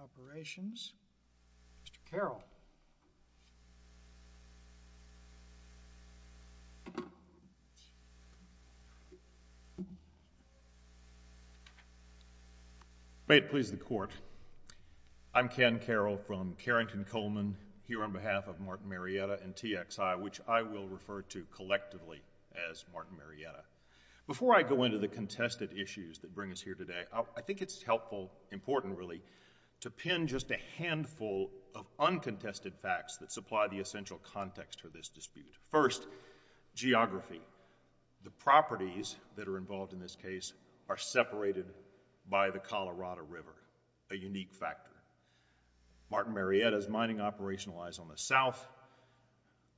Operations, Mr. Carroll. May it please the Court, I'm Ken Carroll from Carrington Coleman here on behalf of Martin Marietta and TXI, which I will refer to collectively as Martin Marietta. Before I go into the contested issues that bring us here today, I think it's helpful, important really, to pin just a handful of uncontested facts that supply the essential context for this dispute. First, geography. The properties that are involved in this case are separated by the Colorado River, a unique factor. Martin Marietta's mining operationalize on the south,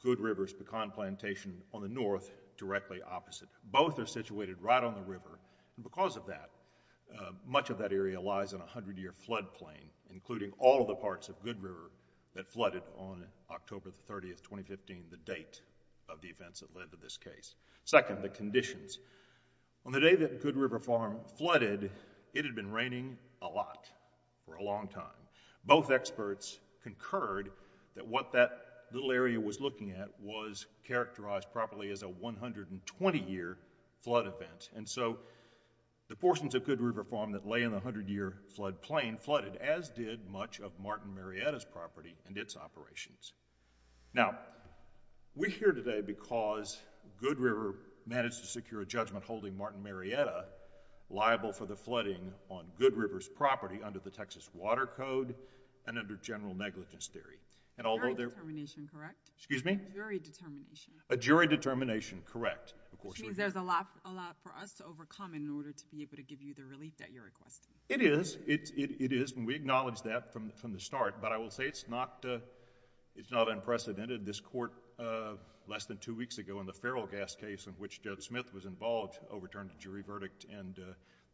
Good River's pecan plantation on the north, directly opposite. Both are situated right on the river, and because of that, much of that area lies on a hundred-year flood plain, including all of the parts of Good River that flooded on October 30, 2015, the date of the events that led to this case. Second, the conditions. On the day that Good River Farm flooded, it had been raining a lot for a long time. Both experts concurred that what that little area was looking at was characterized properly as a 120-year flood event, and so the portions of Good River Farm that lay in the hundred-year flood plain flooded, as did much of Martin Marietta's property and its operations. Now, we're here today because Good River managed to secure a judgment holding Martin Marietta liable for the flooding on Good River's property under the Texas Water Code and under general negligence theory. A jury determination. A jury determination, correct. There's a lot for us to overcome in order to be able to give you the relief that you're requesting. It is, it is, and we acknowledge that from the start, but I will say it's not, it's not unprecedented. This court, less than two weeks ago in the feral gas case in which Judge Smith was involved, overturned a jury verdict and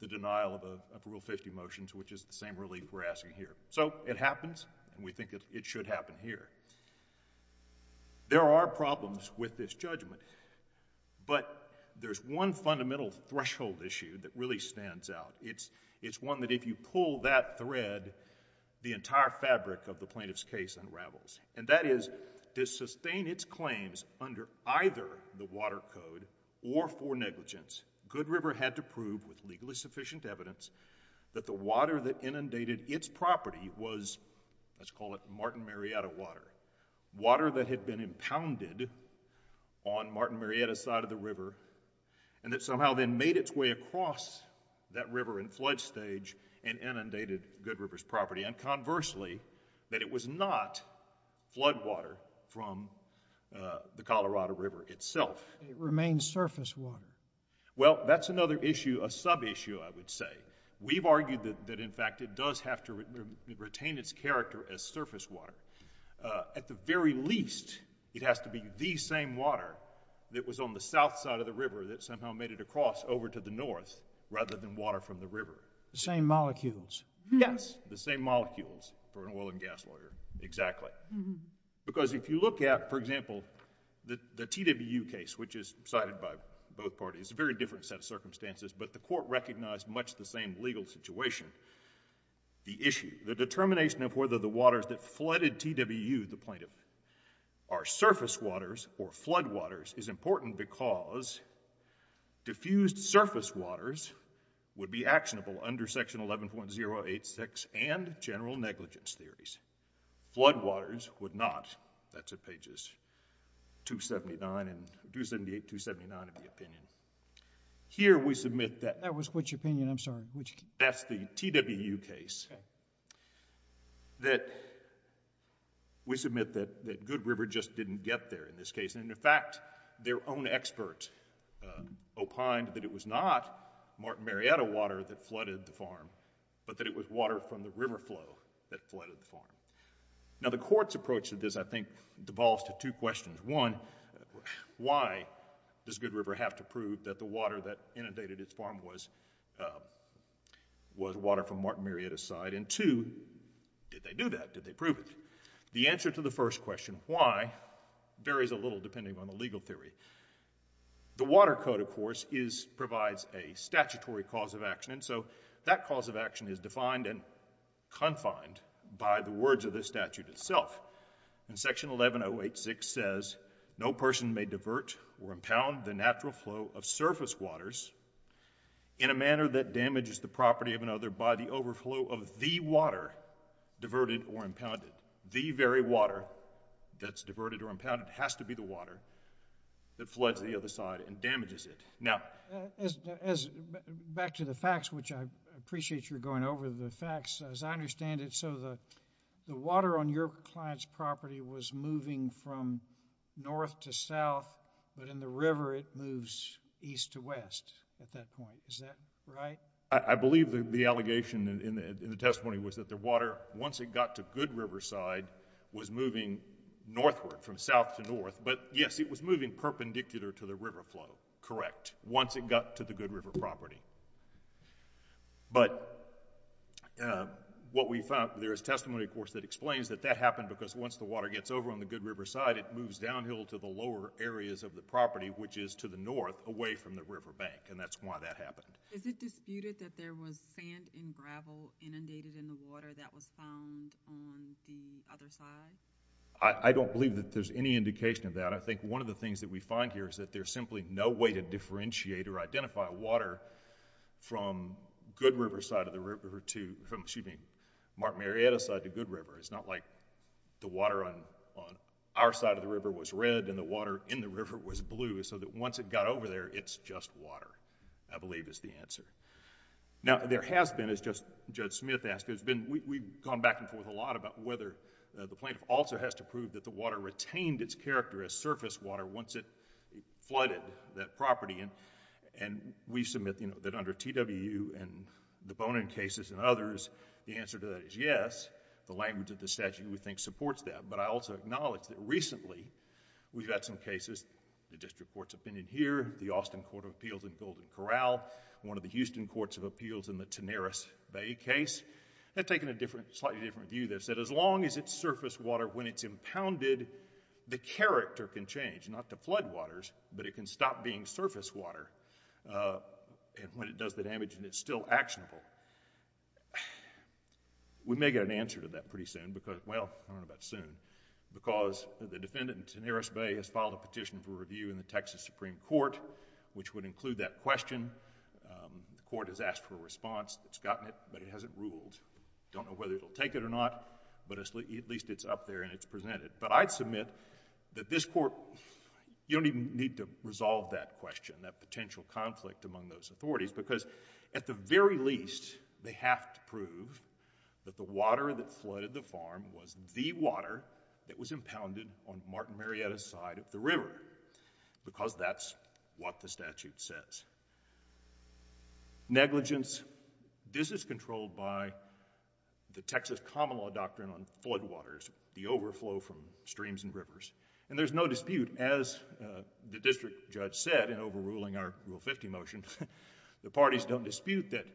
the denial of Rule 50 motions, which is the same relief we're looking for. It happens, and we think it should happen here. There are problems with this judgment, but there's one fundamental threshold issue that really stands out. It's, it's one that if you pull that thread, the entire fabric of the plaintiff's case unravels, and that is, to sustain its claims under either the Water Code or for negligence, Good River had to prove with legally let's call it Martin Marietta water. Water that had been impounded on Martin Marietta's side of the river, and that somehow then made its way across that river in flood stage and inundated Good River's property, and conversely, that it was not flood water from the Colorado River itself. It remains surface water. Well, that's another issue, a sub-issue, I would say. We've argued that, in fact, it does have to retain its character as surface water. At the very least, it has to be the same water that was on the south side of the river that somehow made it across over to the north, rather than water from the river. The same molecules. Yes, the same molecules for an oil and gas lawyer, exactly. Because if you look at, for example, the TWU case, which is cited by both parties, a very different set of circumstances, but the court recognized much the same legal situation. The issue, the determination of whether the waters that flooded TWU, the plaintiff, are surface waters or flood waters is important because diffused surface waters would be actionable under section 11.086 and general negligence theories. Flood waters would not, that's at pages 278 and 279 of the opinion. Here, we submit that... That was which opinion? I'm sorry, which... That's the TWU case that we submit that Good River just didn't get there in this case. In fact, their own expert opined that it was not Marietta water that flooded the farm. Now, the court's approach to this, I think, devolves to two questions. One, why does Good River have to prove that the water that inundated its farm was water from Martin Marietta's side? And two, did they do that? Did they prove it? The answer to the first question, why, varies a little depending on the legal theory. The water code, of course, provides a statutory cause of action, and so that cause of action is defined and confined by the words of the statute itself. And section 11086 says, no person may divert or impound the natural flow of surface waters in a manner that damages the property of another by the overflow of the water diverted or impounded. The very water that's diverted or impounded has to be the water that floods the other side and damages it. Now, back to the facts, which I appreciate you're going over the facts. As I understand it, so the water on your client's property was moving from north to south, but in the river it moves east to west at that point. Is that right? I believe the allegation in the testimony was that the water, once it got to Good Riverside, was moving northward, from south to north. But yes, it was moving perpendicular to the river flow, correct, once it got to the Good River property. But what we found, there is testimony, of course, that explains that that happened because once the water gets over on the Good River side, it moves downhill to the lower areas of the property, which is to the north, away from the river bank, and that's why that happened. Is it disputed that there was sand and gravel inundated in the water that was found on the other side? I don't believe that there's any indication of that. I think one of the things that we find here is that there's simply no way to differentiate or identify water from Good River side of the river to, excuse me, Mark Marietta side to Good River. It's not like the water on our side of the river was red and the water in the river was blue, so that once it got over there, it's just water, I believe is the answer. Now there has been, as Judge Smith asked, we've gone back and forth a lot about whether the plaintiff also has to prove that the water retained its character as surface water once it flooded that property. We submit that under TWU and the Bonin cases and others, the answer to that is yes. The language of the statute, we think, supports that, but I also acknowledge that recently, we've had some cases, the district court's opinion here, the Austin Court of Appeals in Golden Corral, one of the Houston Courts of Appeals in the Tanaris Bay case, have taken a slightly different view. They've said as long as it's surface water when it's impounded, the character can change, not to floodwaters, but it can stop being surface water and when it does the damage and it's still actionable. We may get an answer to that pretty soon because, well, I don't know about soon, because the defendant in Tanaris Bay has filed a petition for review in the Texas Supreme Court, which would include that question. The court has asked for a response, it's gotten it, but it hasn't gotten a response. I don't know whether or not, but at least it's up there and it's presented, but I'd submit that this court, you don't even need to resolve that question, that potential conflict among those authorities, because at the very least, they have to prove that the water that flooded the farm was the water that was impounded on Martin Marietta's side of the river, because that's what the common law doctrine on floodwaters, the overflow from streams and rivers, and there's no dispute, as the district judge said in overruling our Rule 50 motion, the parties don't dispute that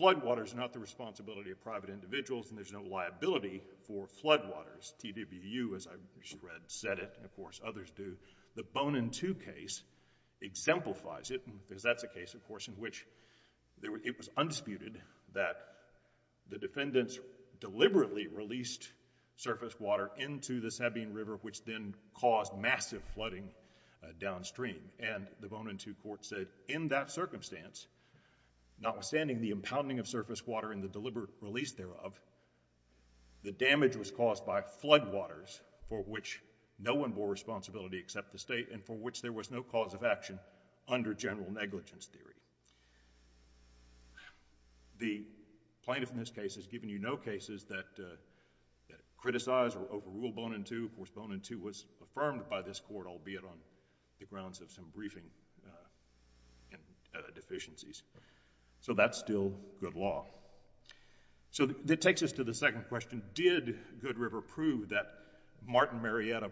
floodwaters are not the responsibility of private individuals and there's no liability for floodwaters. TWU, as I read, said it, and of course others do. The Bonin II case exemplifies it, because that's a case, of course, that the defendants deliberately released surface water into the Sabine River, which then caused massive flooding downstream, and the Bonin II court said in that circumstance, notwithstanding the impounding of surface water and the deliberate release thereof, the damage was caused by floodwaters for which no one bore responsibility except the state and for which there was no cause of action under general negligence theory. The plaintiff in this case has given you no cases that criticize or overrule Bonin II. Of course, Bonin II was affirmed by this court, albeit on the grounds of some briefing deficiencies, so that's still good law. So that takes us to the second question. Did Good River prove that Martin Marietta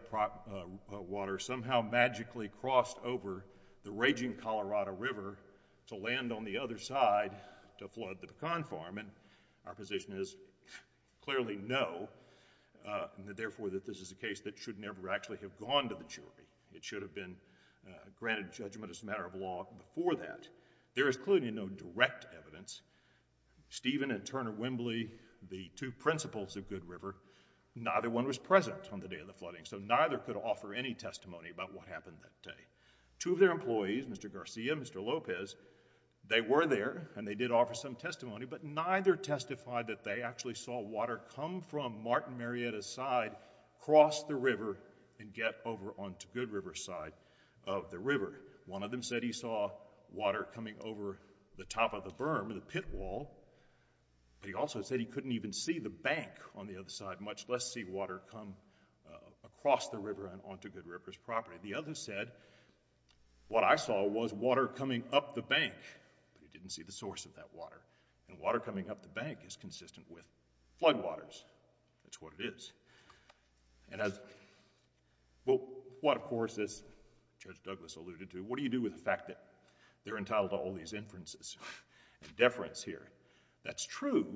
water somehow magically crossed over the raging Colorado River to land on the other side to flood the pecan farm? And our position is clearly no, and therefore that this is a case that should never actually have gone to the jury. It should have been granted judgment as a matter of law before that. There is clearly no direct evidence. Stephen and Turner Wembley, the two of their employees, Mr. Garcia, Mr. Lopez, they were there and they did offer some testimony, but neither testified that they actually saw water come from Martin Marietta's side, cross the river, and get over onto Good River's side of the river. One of them said he saw water coming over the top of the berm, the pit wall. He also said he couldn't even see the bank on the other side, much less see water come across the river and onto Good River's property. The other said, what I saw was water coming up the bank, but he didn't see the source of that water, and water coming up the bank is consistent with floodwaters. That's what it is. And as, well, what of course, as Judge Douglas alluded to, what do you do with the fact that they're entitled to all these inferences and deference here? That's true,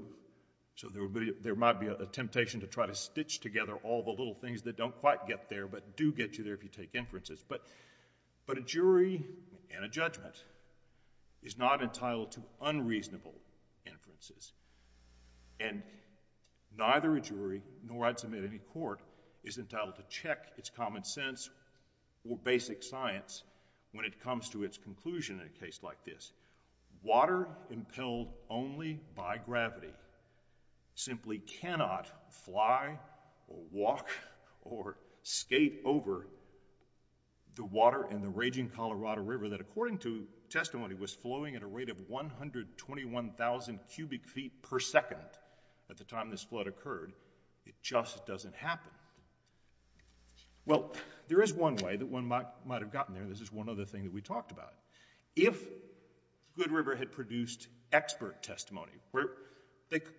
so there might be a temptation to try to stitch together all the little things that don't quite get there, but do get you there if you take inferences. But a jury and a judgment is not entitled to unreasonable inferences. And neither a jury, nor I'd submit any court, is entitled to check its common sense or basic science when it comes to its conclusion in a case like this. Water impelled only by gravity simply cannot fly, or walk, or skate over the water in the raging Colorado River that, according to testimony, was flowing at a rate of 121,000 cubic feet per second at the time this flood occurred. It just doesn't happen. Well, there is one way that one might have gotten there. This is one of the things that we talked about. If Good River had produced expert testimony, where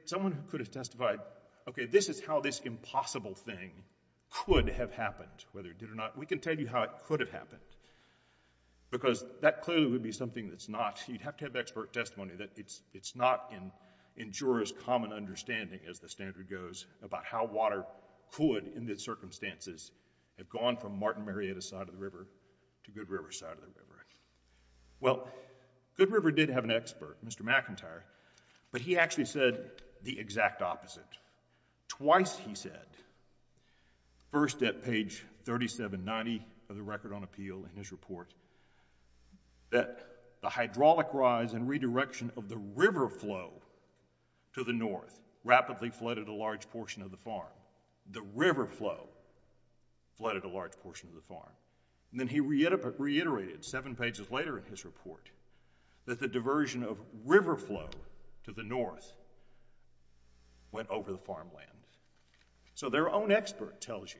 someone could have testified, okay, this is how this impossible thing could have happened, whether it did or not. We can tell you how it could have happened, because that clearly would be something that's not, you'd have to have expert testimony, that it's not in jurors' common understanding, as the standard goes, about how water could, in the circumstances, have gone from Martin River to the Colorado River. Well, Good River did have an expert, Mr. McIntyre, but he actually said the exact opposite. Twice he said, first at page 3790 of the Record on Appeal in his report, that the hydraulic rise and redirection of the river flow to the north rapidly flooded a large portion of the farm. The river flow flooded a large portion of the farm. Then he reiterated, seven pages later in his report, that the diversion of river flow to the north went over the farmland. So their own expert tells you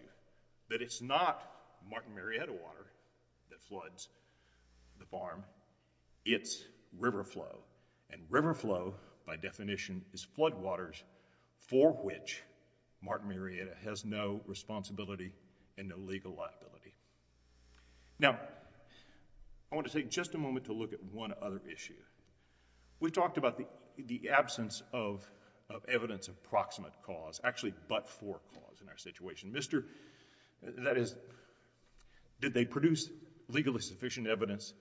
that it's not Martin Marietta water that floods the farm. It's river flow, and river flow, by definition, is floodwaters for which Martin Marietta has no responsibility and no legal liability. Now, I want to take just a moment to look at one other issue. We talked about the absence of evidence of proximate cause, actually but-for cause in our situation. That is, did they produce legally sufficient evidence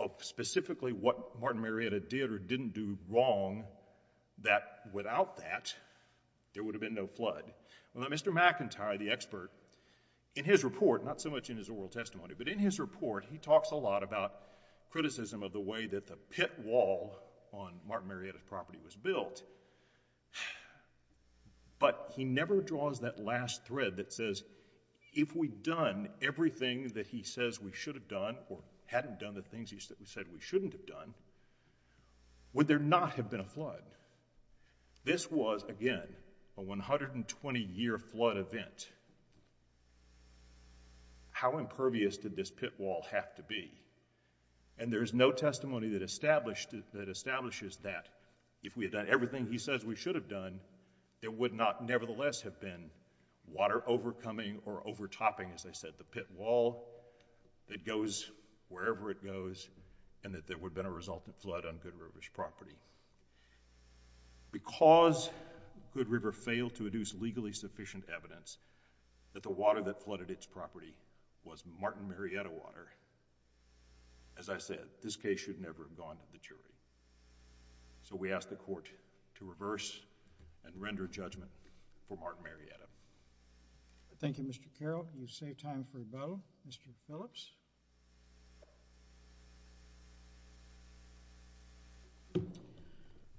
of specifically what Martin Marietta did or didn't do wrong, that without that, there would have been no flood. Well, Mr. McIntyre, the expert, in his report, not so much in his oral testimony, but in his report, he talks a lot about criticism of the way that the pit wall on Martin Marietta's property was built, but he never draws that last thread that says, if we'd done everything that he says we should have done or hadn't done the things he said we shouldn't have done, would there not have been a flood? This was, again, a 120-year flood event. How impervious did this pit wall have to be? And there is no testimony that established-that establishes that if we had done everything he says we should have done, there would not nevertheless have been water overcoming or overtopping, as I said, the pit wall that goes wherever it goes and that there would have been a resultant flood on Good River's property. Because Good River failed to produce legally sufficient evidence that the water that flooded its property was Martin Marietta water, as I said, this case should never have gone to the jury. So we ask the court to reverse and reconsider. Thank you, Mr. Carroll. You've saved time for rebuttal. Mr. Phillips?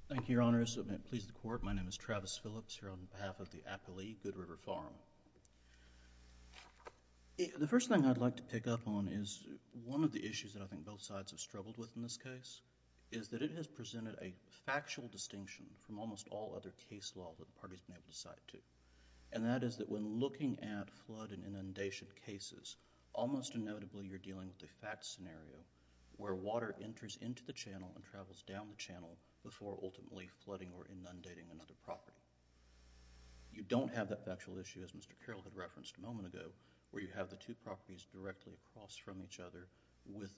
Thank you, Your Honor. It has pleased the court. My name is Travis Phillips here on behalf of the appellee, Good River Farm. The first thing I'd like to pick up on is one of the issues that I think both sides have struggled with in this case is that it has presented a factual distinction from almost all other case law that the party has been able to cite to, and that is that when looking at flood and inundation cases, almost inevitably you're dealing with a fact scenario where water enters into the channel and travels down the channel before ultimately flooding or inundating another property. You don't have that factual issue, as Mr. Carroll had referenced a moment ago, where you have the two properties directly across from each other with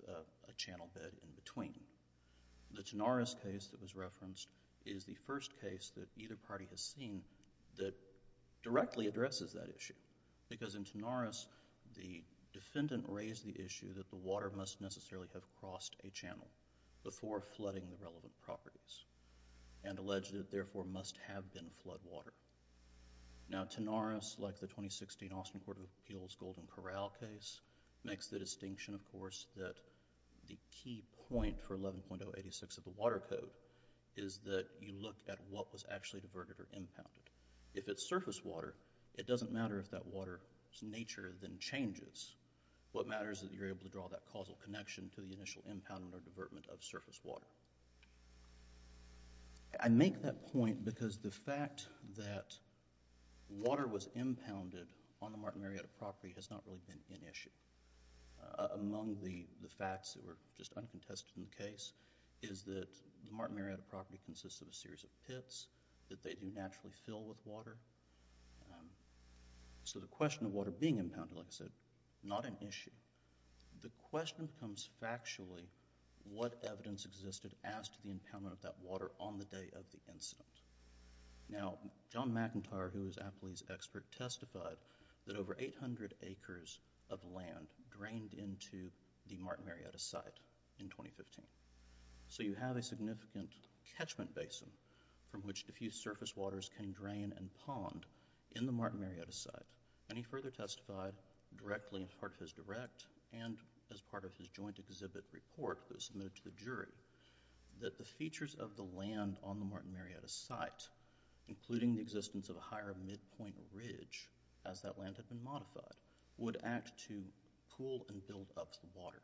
a channel bed in between. The Tanaris case that was referenced is the first case that either party has seen that directly addresses that issue because in Tanaris, the defendant raised the issue that the water must necessarily have crossed a channel before flooding the relevant properties and alleged that therefore must have been flood water. Now, Tanaris, like the 2016 Austin Court of Appeals Golden Corral case, makes the distinction, of course, that the key point for 11.086 of the Water Code is that you look at what was actually diverted or impounded. If it's surface water, it doesn't matter if that water's nature then changes. What matters is that you're able to draw that causal connection to the initial impoundment or divertment of surface water. I make that point because the fact that water was impounded on the Martin Marietta property has not really been an issue. Among the facts that were just uncontested in the case is that the Martin Marietta property consists of a series of pits that they do naturally fill with water. The question of water being impounded, like I said, not an issue. The question becomes factually what evidence existed as to the impoundment of that water on the day of the incident. Now, John McIntyre, who was Appley's expert, testified that over 800 acres of land drained into the Martin Marietta site in 2015. So you have a significant catchment basin from which diffused surface waters can drain and pond in the Martin Marietta site. He further testified directly in part of his direct and as part of his joint exhibit report that was submitted to the jury that the site, including the existence of a higher midpoint ridge as that land had been modified, would act to pool and build up the water.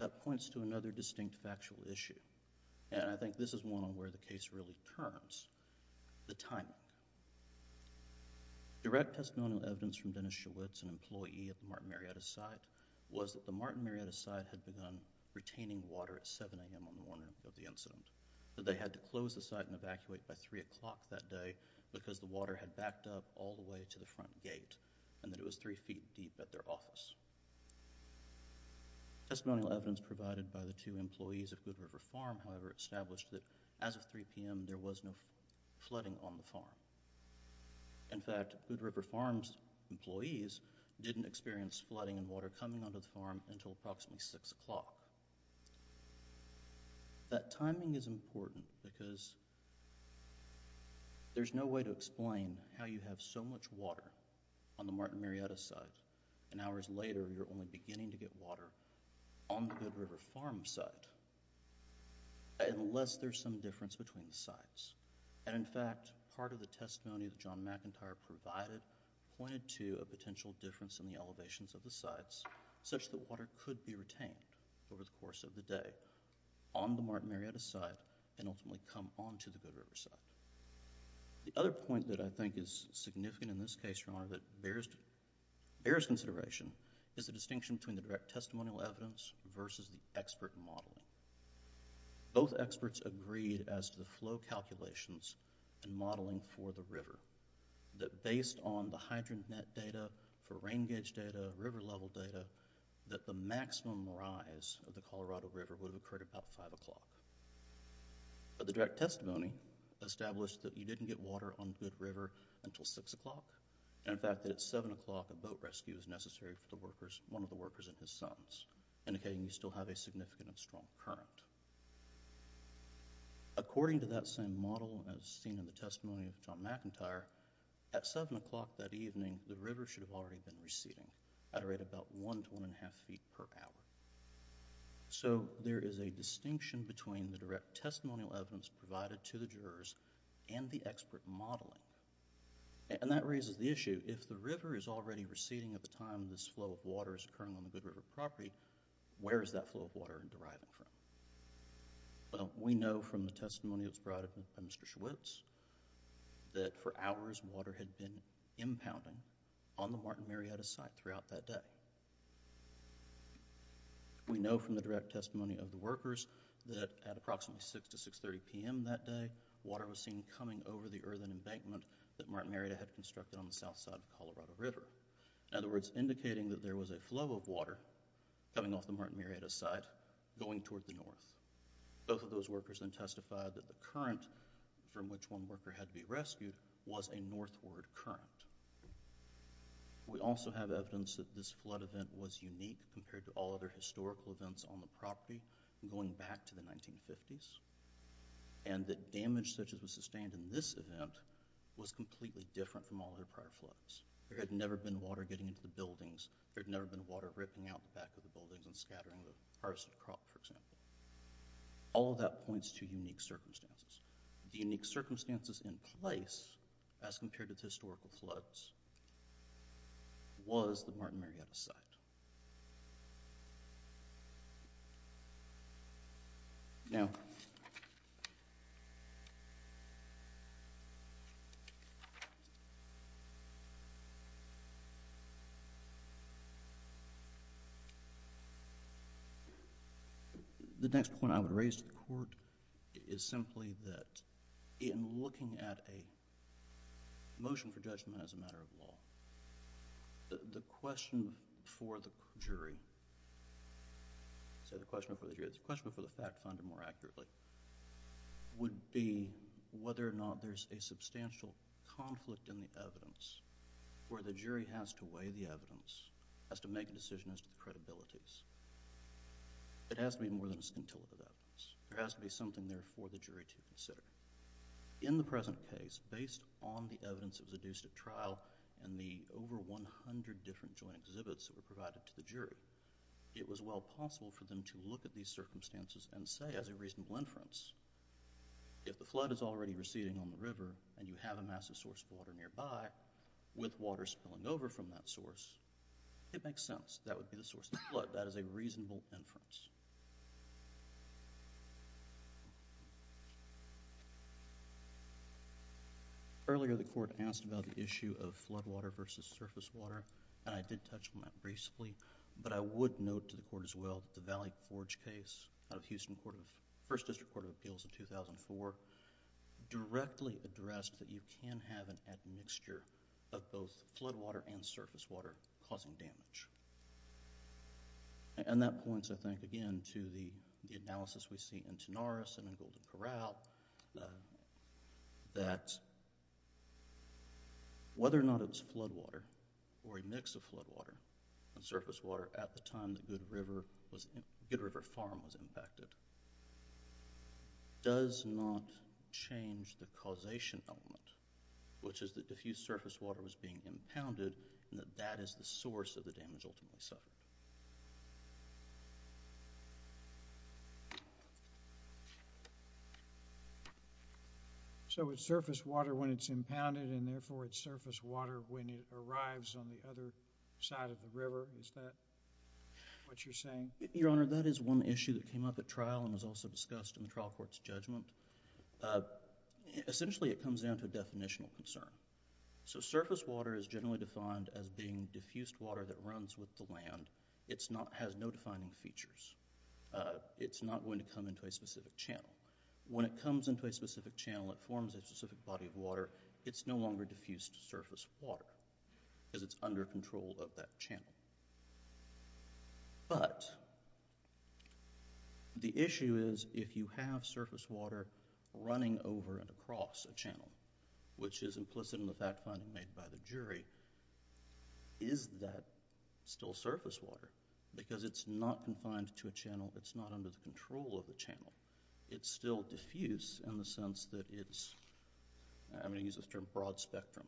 That points to another distinct factual issue, and I think this is one on where the case really turns, the timing. Direct testimonial evidence from Dennis Schewitz, an employee of the Martin Marietta site, was that the Martin Marietta site had begun retaining water at 7 a.m. on the morning of the incident. That they had to close the site and evacuate by 3 o'clock that day because the water had backed up all the way to the front gate, and that it was three feet deep at their office. Testimonial evidence provided by the two employees of Good River Farm, however, established that as of 3 p.m. there was no flooding on the farm. In fact, Good River Farm's employees didn't experience flooding and this is important because there's no way to explain how you have so much water on the Martin Marietta site, and hours later you're only beginning to get water on the Good River Farm site, unless there's some difference between the sites. In fact, part of the testimony that John McIntyre provided pointed to a potential difference in the elevations of the sites, such that water could be The other point that I think is significant in this case, Your Honor, that bears consideration is the distinction between the direct testimonial evidence versus the expert modeling. Both experts agreed as to the flow calculations and modeling for the river, that based on the hydrant net data, for rain gauge data, river level data, that the maximum rise of the Colorado River would have occurred about 5 o'clock. But the direct testimony established that you didn't get water on Good River until 6 o'clock, and in fact that at 7 o'clock a boat rescue is necessary for the workers, one of the workers and his sons, indicating you still have a significant and strong current. According to that same model as seen in the testimony of John McIntyre, at 7 o'clock that evening the river should have already been receding at a rate about one to one and a half feet per hour. There is a distinction between the direct testimonial evidence provided to the jurors and the expert modeling. That raises the issue, if the river is already receding at the time this flow of water is occurring on the Good River property, where is that flow of water deriving from? We know from the testimony that was brought in by Mr. Schwartz that for hours water had been We know from the direct testimony of the workers that at approximately 6 to 630 p.m. that day, water was seen coming over the earthen embankment that Martin Murrieta had constructed on the south side of Colorado River. In other words, indicating that there was a flow of water coming off the Martin Murrieta side going toward the north. Both of those workers then testified that the current from which one worker had to be rescued was a northward current. We also have evidence that this flood event was unique compared to all other historical events on the property going back to the 1950s, and that damage such as was sustained in this event was completely different from all other prior floods. There had never been water getting into the buildings. There had never been water ripping out the back of the buildings and scattering the harvested crop, for example. All of that points to unique circumstances. The unique circumstances in place as compared to historical floods was the Martin Murrieta side. Now, the next point I would raise to the court is simply that in looking at a motion for judgment as a matter of law, the question for the jury, so the question for the fact finder more accurately, would be whether or not there's a substantial conflict in the evidence where the jury has to weigh the evidence, has to make a decision as to the credibilities. It has to be more than a scintillative evidence. There has to be something there for the jury to consider. In the present case, based on the evidence that was adduced at trial and the over 100 different joint exhibits that were provided to the jury, it was well possible for them to look at these circumstances and say, as a reasonable inference, if the flood is already receding on the river and you have a massive source of water nearby, with water spilling over from that source, it makes sense. That would be the source of the flood. That is a reasonable inference. Earlier, the court asked about the issue of flood water versus surface water, and I did touch on that briefly, but I would note to the court as well that the Valley Forge case of Houston First District Court of Appeals in 2004 directly addressed that you can have an admixture of both flood water and surface water causing damage. That points, I think, again to the analysis we see in Tenoris and in Golden Corral that whether or not it was flood water or a mix of flood water and surface water at the time the Good River Farm was impacted does not change the causation element, which is the diffused surface water was being impounded and that that is the source of the damage ultimately suffered. So it's surface water when it's impounded and therefore it's surface water when it arrives on the other side of the river. Is that what you're saying? Your Honor, that is one issue that came up at trial and was also discussed in the trial court's judgment. Essentially, it comes down to a definitional concern. So surface water is generally defined as being diffused water that runs with the land. It has no defining features. It's not going to come into a specific channel. When it comes into a specific channel, it forms a specific body of water. It's no longer diffused surface water because it's under control of that channel. But the issue is if you have surface water running over and across a channel, which is implicit in the fact finding made by the jury, is that still surface water? Because it's not confined to a channel. It's not under the control of the channel. It's still diffused in the sense that it's, I'm going to use this term, broad spectrum.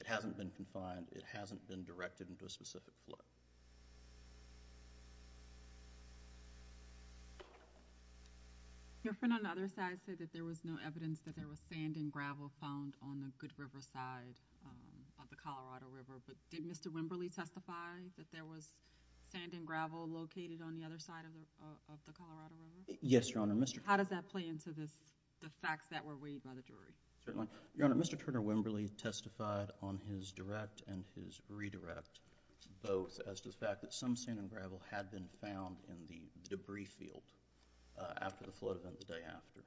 It hasn't been confined. It hasn't been directed into a specific flood. Your friend on the other side said that there was no evidence that there was sand and gravel found on the Good River side of the Colorado River. But did Mr. Wimberly testify that there was sand and gravel located on the other side of the Colorado River? Yes, Your Honor. How does that play into the facts that were weighed by the jury? Certainly. Your Honor, Mr. Turner Wimberly testified on his direct and his redirect both as to the fact that some sand and gravel had been found in the debris field after the flood event the day after.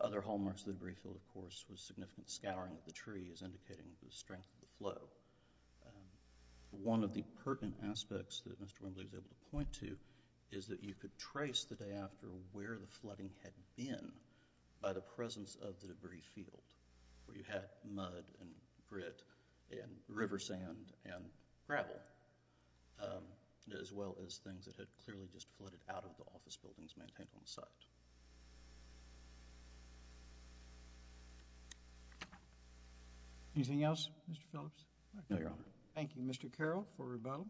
Other hallmarks of the debris field, of course, was significant scouring of the trees indicating the strength of the flow. One of the pertinent aspects that Mr. Wimberly was able to point to is that you could trace the day after where the flooding had been by the presence of the debris field where you had mud and grit and river sand and gravel as well as things that had clearly just flooded out of the office buildings maintained on the site. Anything else, Mr. Phillips? No, Your Honor. Thank you, Mr. Carroll for rebuttal.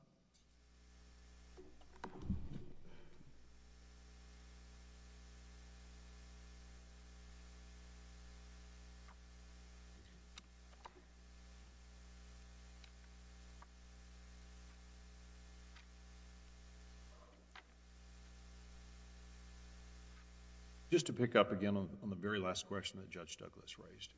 Just to pick up again on the very last question that Judge Douglas raised,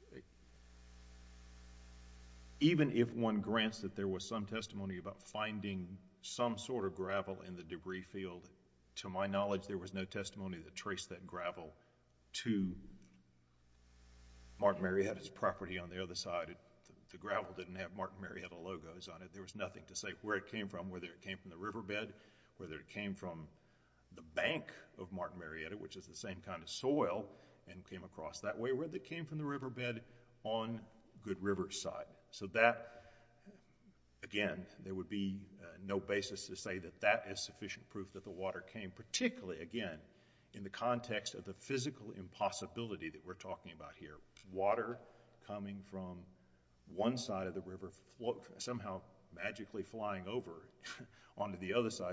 even if one grants that there was some testimony about finding some sort of gravel in the debris field, to my knowledge, there was no testimony that traced that gravel to Martin Marietta's property on the other side. The gravel didn't have Martin Marietta logos on it. There was nothing to say where it came from, whether it came from the riverbed, whether it came from the bank of Martin Marietta, which is the same kind of soil and came across that way. It came from the riverbed on Good River side. Again, there would be no basis to say that that is sufficient proof that the water came, particularly, again, in the context of the physical impossibility that we're talking about here. Water coming from one side of the river, somehow magically flying over onto the other. There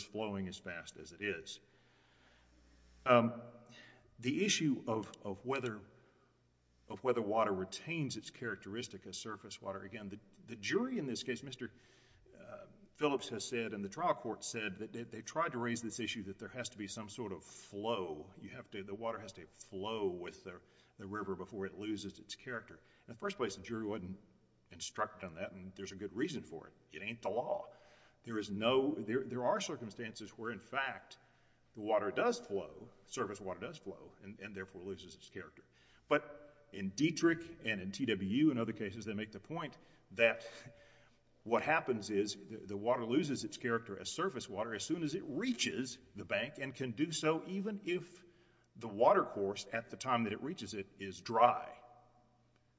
is no question of whether water retains its characteristic as surface water. Again, the jury in this case, Mr. Phillips has said and the trial court said that they tried to raise this issue that there has to be some sort of flow. The water has to flow with the river before it loses its character. In the first place, the jury wouldn't instruct on that and there's a good reason for it. It ain't the law. There are circumstances where in fact the water does flow, surface water does flow, and therefore loses its character. But in Dietrich and in TWU and other cases, they make the point that what happens is the water loses its character as surface water as soon as it reaches the bank and can do so even if the watercourse at the time that it reaches it is dry,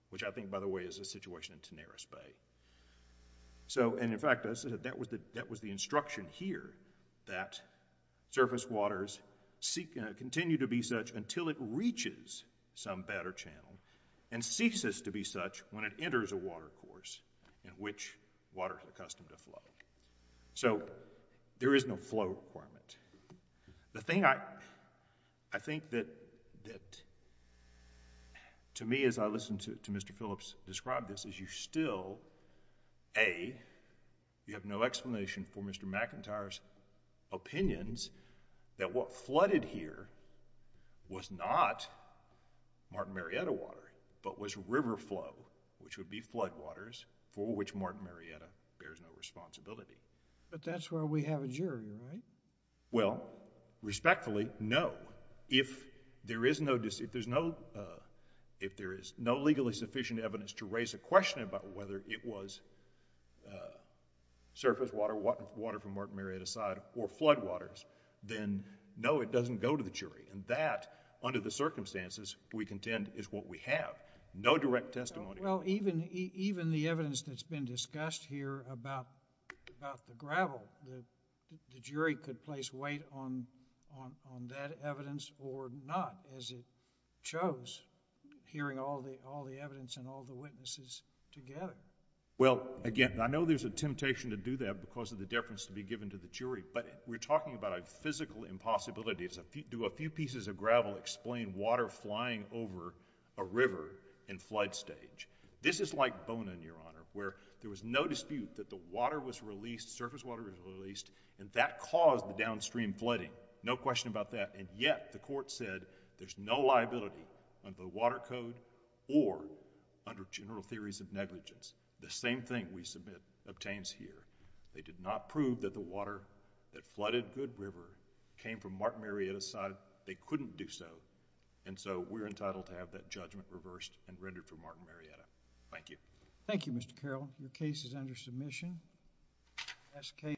which I think, by the way, is a situation in Tanaris Bay. In fact, that was the instruction here that surface waters continue to be such until it reaches some better channel and ceases to be such when it enters a watercourse in which water is accustomed to flow. So there is no flow requirement. The thing I think that to me as I listen to Mr. Phillips describe this is you still, A, you have no explanation for Mr. McIntyre's opinions that what flooded here was not Martin Marietta water, but was river flow, which would be flood waters for which Martin Marietta bears no responsibility. But that's where we have a jury, right? Well, respectfully, no. If there is no, if there's no, if there is no legally sufficient evidence to raise a question about whether it was surface water, water from Martin Marietta's side, or flood waters, then no, it doesn't go to the jury. And that, under the circumstances, we contend is what we have. No direct testimony... Well, even the evidence that's been discussed here about the gravel, the jury could place weight on that evidence or not, as it shows, hearing all the evidence and all the witnesses together. Well, again, I know there's a temptation to do that because of the deference to be given to the jury, but we're talking about a physical impossibility. Do a few pieces of gravel explain water flying over a river in flood stage? This is like Bonin, Your Honor, where there was no dispute that the water was released, surface water was released, and that caused the downstream flooding. No question about that. And yet, the Court said there's no liability under the water code or under general theories of negligence. The same thing we submit obtains here. They did not prove that the water that flooded Good River came from Martin Marietta's side. They couldn't do so. And so, we're entitled to have that judgment reversed and rendered for Martin Marietta. Thank you. Thank you, Mr. Carroll. Your case is under submission.